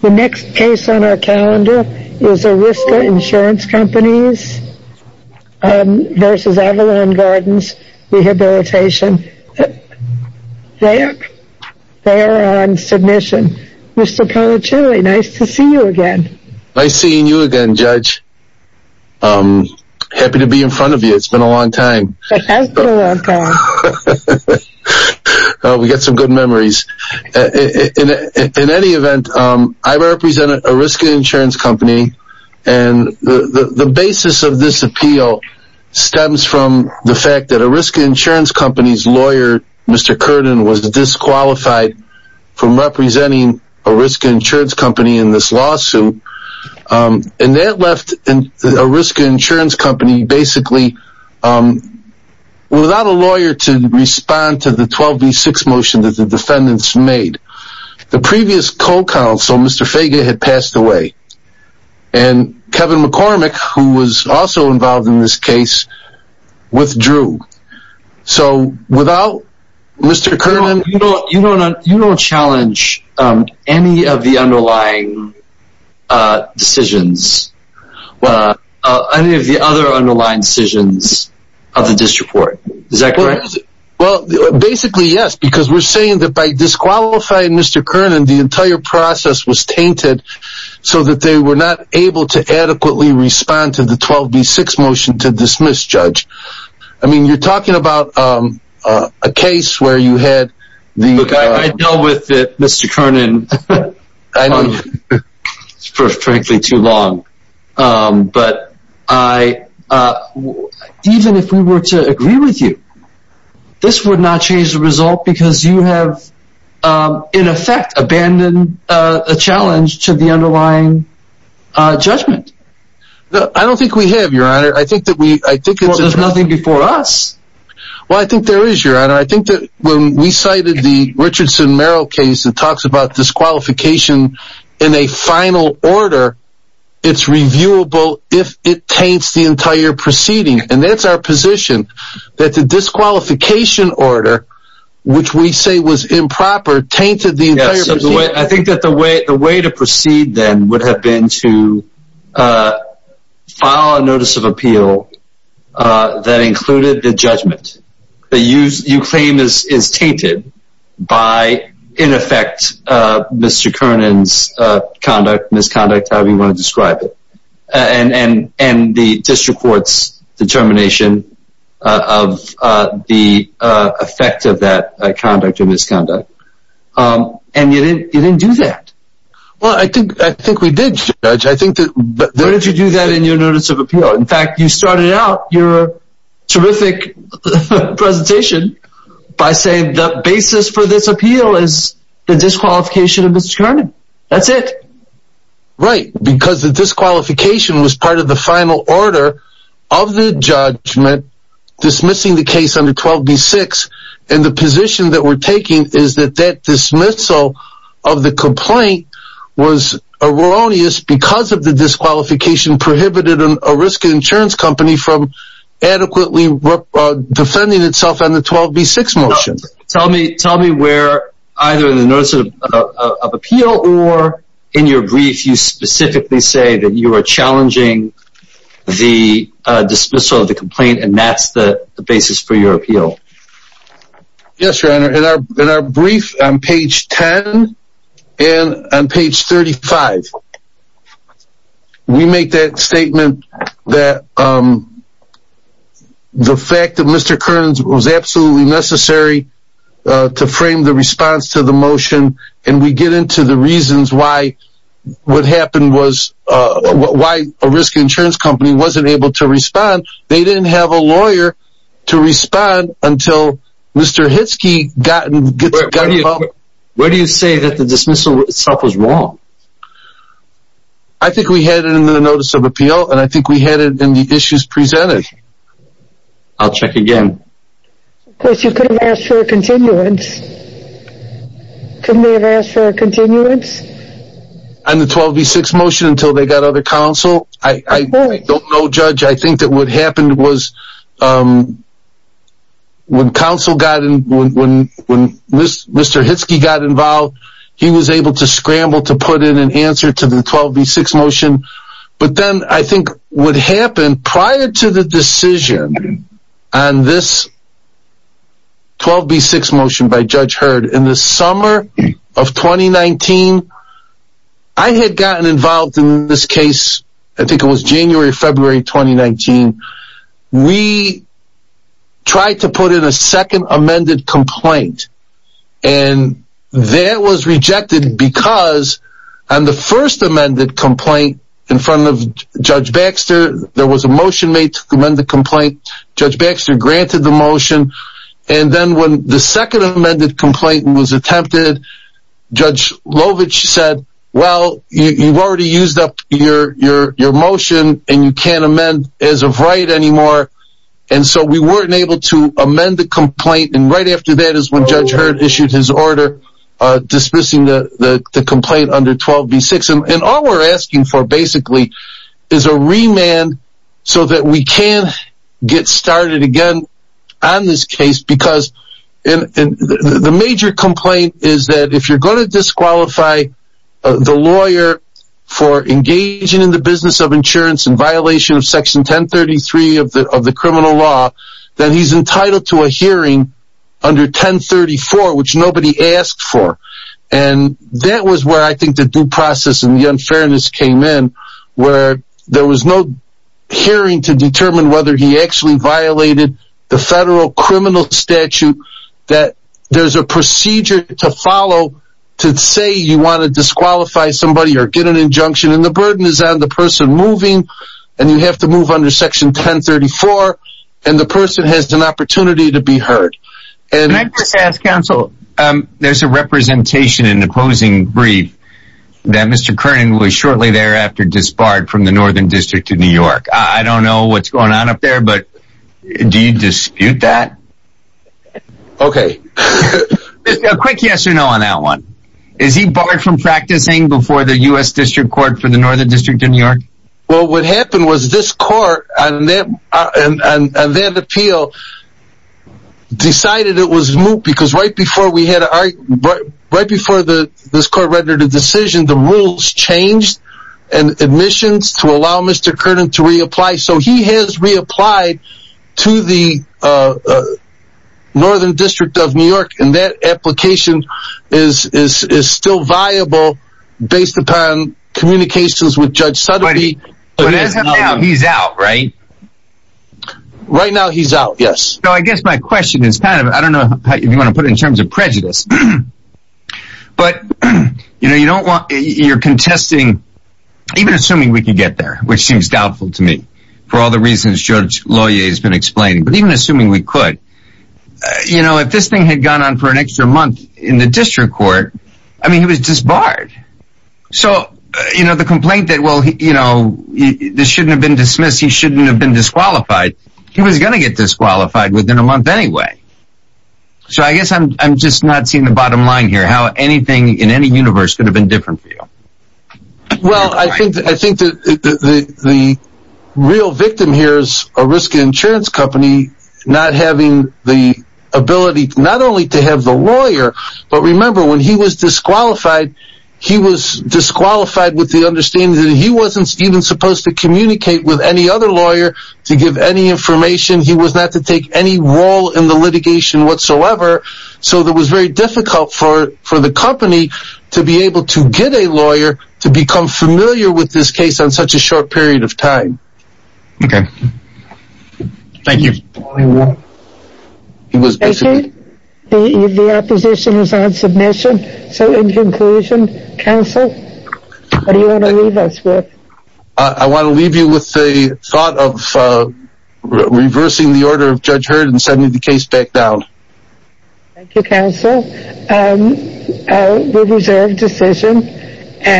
The next case on our calendar is Ariska Insurance Company v. Avalon Gardens Rehabilitation They are on submission Mr. Polichilli, nice to see you again Nice seeing you again Judge Happy to be in front of you, it's been a long time It has been a long time We've got some good memories In any event, I represent Ariska Insurance Company The basis of this appeal stems from the fact that Ariska Insurance Company's lawyer, Mr. Curden, was disqualified from representing Ariska Insurance Company in this lawsuit That left Ariska Insurance Company without a lawyer to respond to the 12 v 6 motion that the defendants made The previous co-counsel, Mr. Fager, had passed away Kevin McCormick, who was also involved in this case, withdrew You don't challenge any of the underlying decisions of the disreport, is that correct? Basically yes, because we're saying that by disqualifying Mr. Curden, the entire process was tainted so that they were not able to adequately respond to the 12 v 6 motion to dismiss Judge You're talking about a case where you had the... Look, I dealt with Mr. Curden for frankly too long Even if we were to agree with you, this would not change the result because you have, in effect, abandoned a challenge to the underlying judgment I don't think we have, Your Honor Well, there's nothing before us Well, I think there is, Your Honor I think that when we cited the Richardson-Merrill case that talks about disqualification in a final order, it's reviewable if it taints the entire proceeding And that's our position, that the disqualification order, which we say was improper, tainted the entire proceeding I think that the way to proceed then would have been to file a notice of appeal that included the judgment that you claim is tainted by, in effect, Mr. Curden's conduct, misconduct, however you want to describe it And the district court's determination of the effect of that conduct or misconduct And you didn't do that Well, I think we did, Judge Why did you do that in your notice of appeal? In fact, you started out your terrific presentation by saying the basis for this appeal is the disqualification of Mr. Curden. That's it Right, because the disqualification was part of the final order of the judgment dismissing the case under 12b-6 And the position that we're taking is that that dismissal of the complaint was erroneous because of the disqualification prohibited a risk insurance company from adequately defending itself on the 12b-6 motion Tell me where, either in the notice of appeal or in your brief, you specifically say that you are challenging the dismissal of the complaint and that's the basis for your appeal Yes, Your Honor. In our brief on page 10 and on page 35, we make that statement that the fact that Mr. Curden was absolutely necessary to frame the response to the motion And we get into the reasons why a risk insurance company wasn't able to respond. They didn't have a lawyer to respond until Mr. Hitzke got involved Where do you say that the dismissal itself was wrong? I think we had it in the notice of appeal and I think we had it in the issues presented I'll check again Of course, you could have asked for a continuance. Couldn't they have asked for a continuance? On the 12b-6 motion until they got other counsel? I don't know, Judge. I think that what happened was when counsel got involved, when Mr. Hitzke got involved, he was able to scramble to put in an answer to the 12b-6 motion But then I think what happened prior to the decision on this 12b-6 motion by Judge Hurd in the summer of 2019, I had gotten involved in this case, I think it was January or February 2019 We tried to put in a second amended complaint and that was rejected because on the first amended complaint in front of Judge Baxter, there was a motion made to amend the complaint Judge Baxter granted the motion and then when the second amended complaint was attempted, Judge Lovich said, well, you've already used up your motion and you can't amend as of right anymore And so we weren't able to amend the complaint and right after that is when Judge Hurd issued his order dismissing the complaint under 12b-6 And all we're asking for basically is a remand so that we can get started again on this case because the major complaint is that if you're going to disqualify the lawyer for engaging in the business of insurance in violation of section 1033 of the criminal law, then he's entitled to a hearing under 1034 which nobody asked for And that was where I think the due process and the unfairness came in where there was no hearing to determine whether he actually violated the federal criminal statute that there's a procedure to follow to say you want to disqualify somebody or get an injunction and the burden is on the person moving and you have to move under section 1034 and the person has an opportunity to be heard Can I just ask counsel, there's a representation in the opposing brief that Mr. Kernan was shortly thereafter disbarred from the Northern District of New York. I don't know what's going on up there but do you dispute that? Okay A quick yes or no on that one. Is he barred from practicing before the U.S. District Court for the Northern District of New York? Well what happened was this court on that appeal decided it was moot because right before this court rendered a decision the rules changed and admissions to allow Mr. Kernan to reapply so he has reapplied to the Northern District of New York and that application is still viable based upon communications with Judge Sutton He's out right? Right now he's out, yes So I guess my question is, I don't know if you want to put it in terms of prejudice, but you're contesting, even assuming we can get there, which seems doubtful to me for all the reasons Judge Loyer has been explaining, but even assuming we could, you know if this thing had gone on for an extra month in the district court, I mean he was disbarred So the complaint that this shouldn't have been dismissed, he shouldn't have been disqualified, he was going to get disqualified within a month anyway, so I guess I'm just not seeing the bottom line here, how anything in any universe could have been different for you Well I think the real victim here is a risk insurance company not having the ability not only to have the lawyer, but remember when he was disqualified, he was disqualified with the understanding that he wasn't even supposed to communicate with any other lawyer to give any information, he was not to take any role in the litigation whatsoever So it was very difficult for the company to be able to get a lawyer to become familiar with this case on such a short period of time Okay, thank you Thank you, the opposition is on submission, so in conclusion, counsel, what do you want to leave us with? I want to leave you with the thought of reversing the order of Judge Hurd and sending the case back down Thank you counsel, we reserve the decision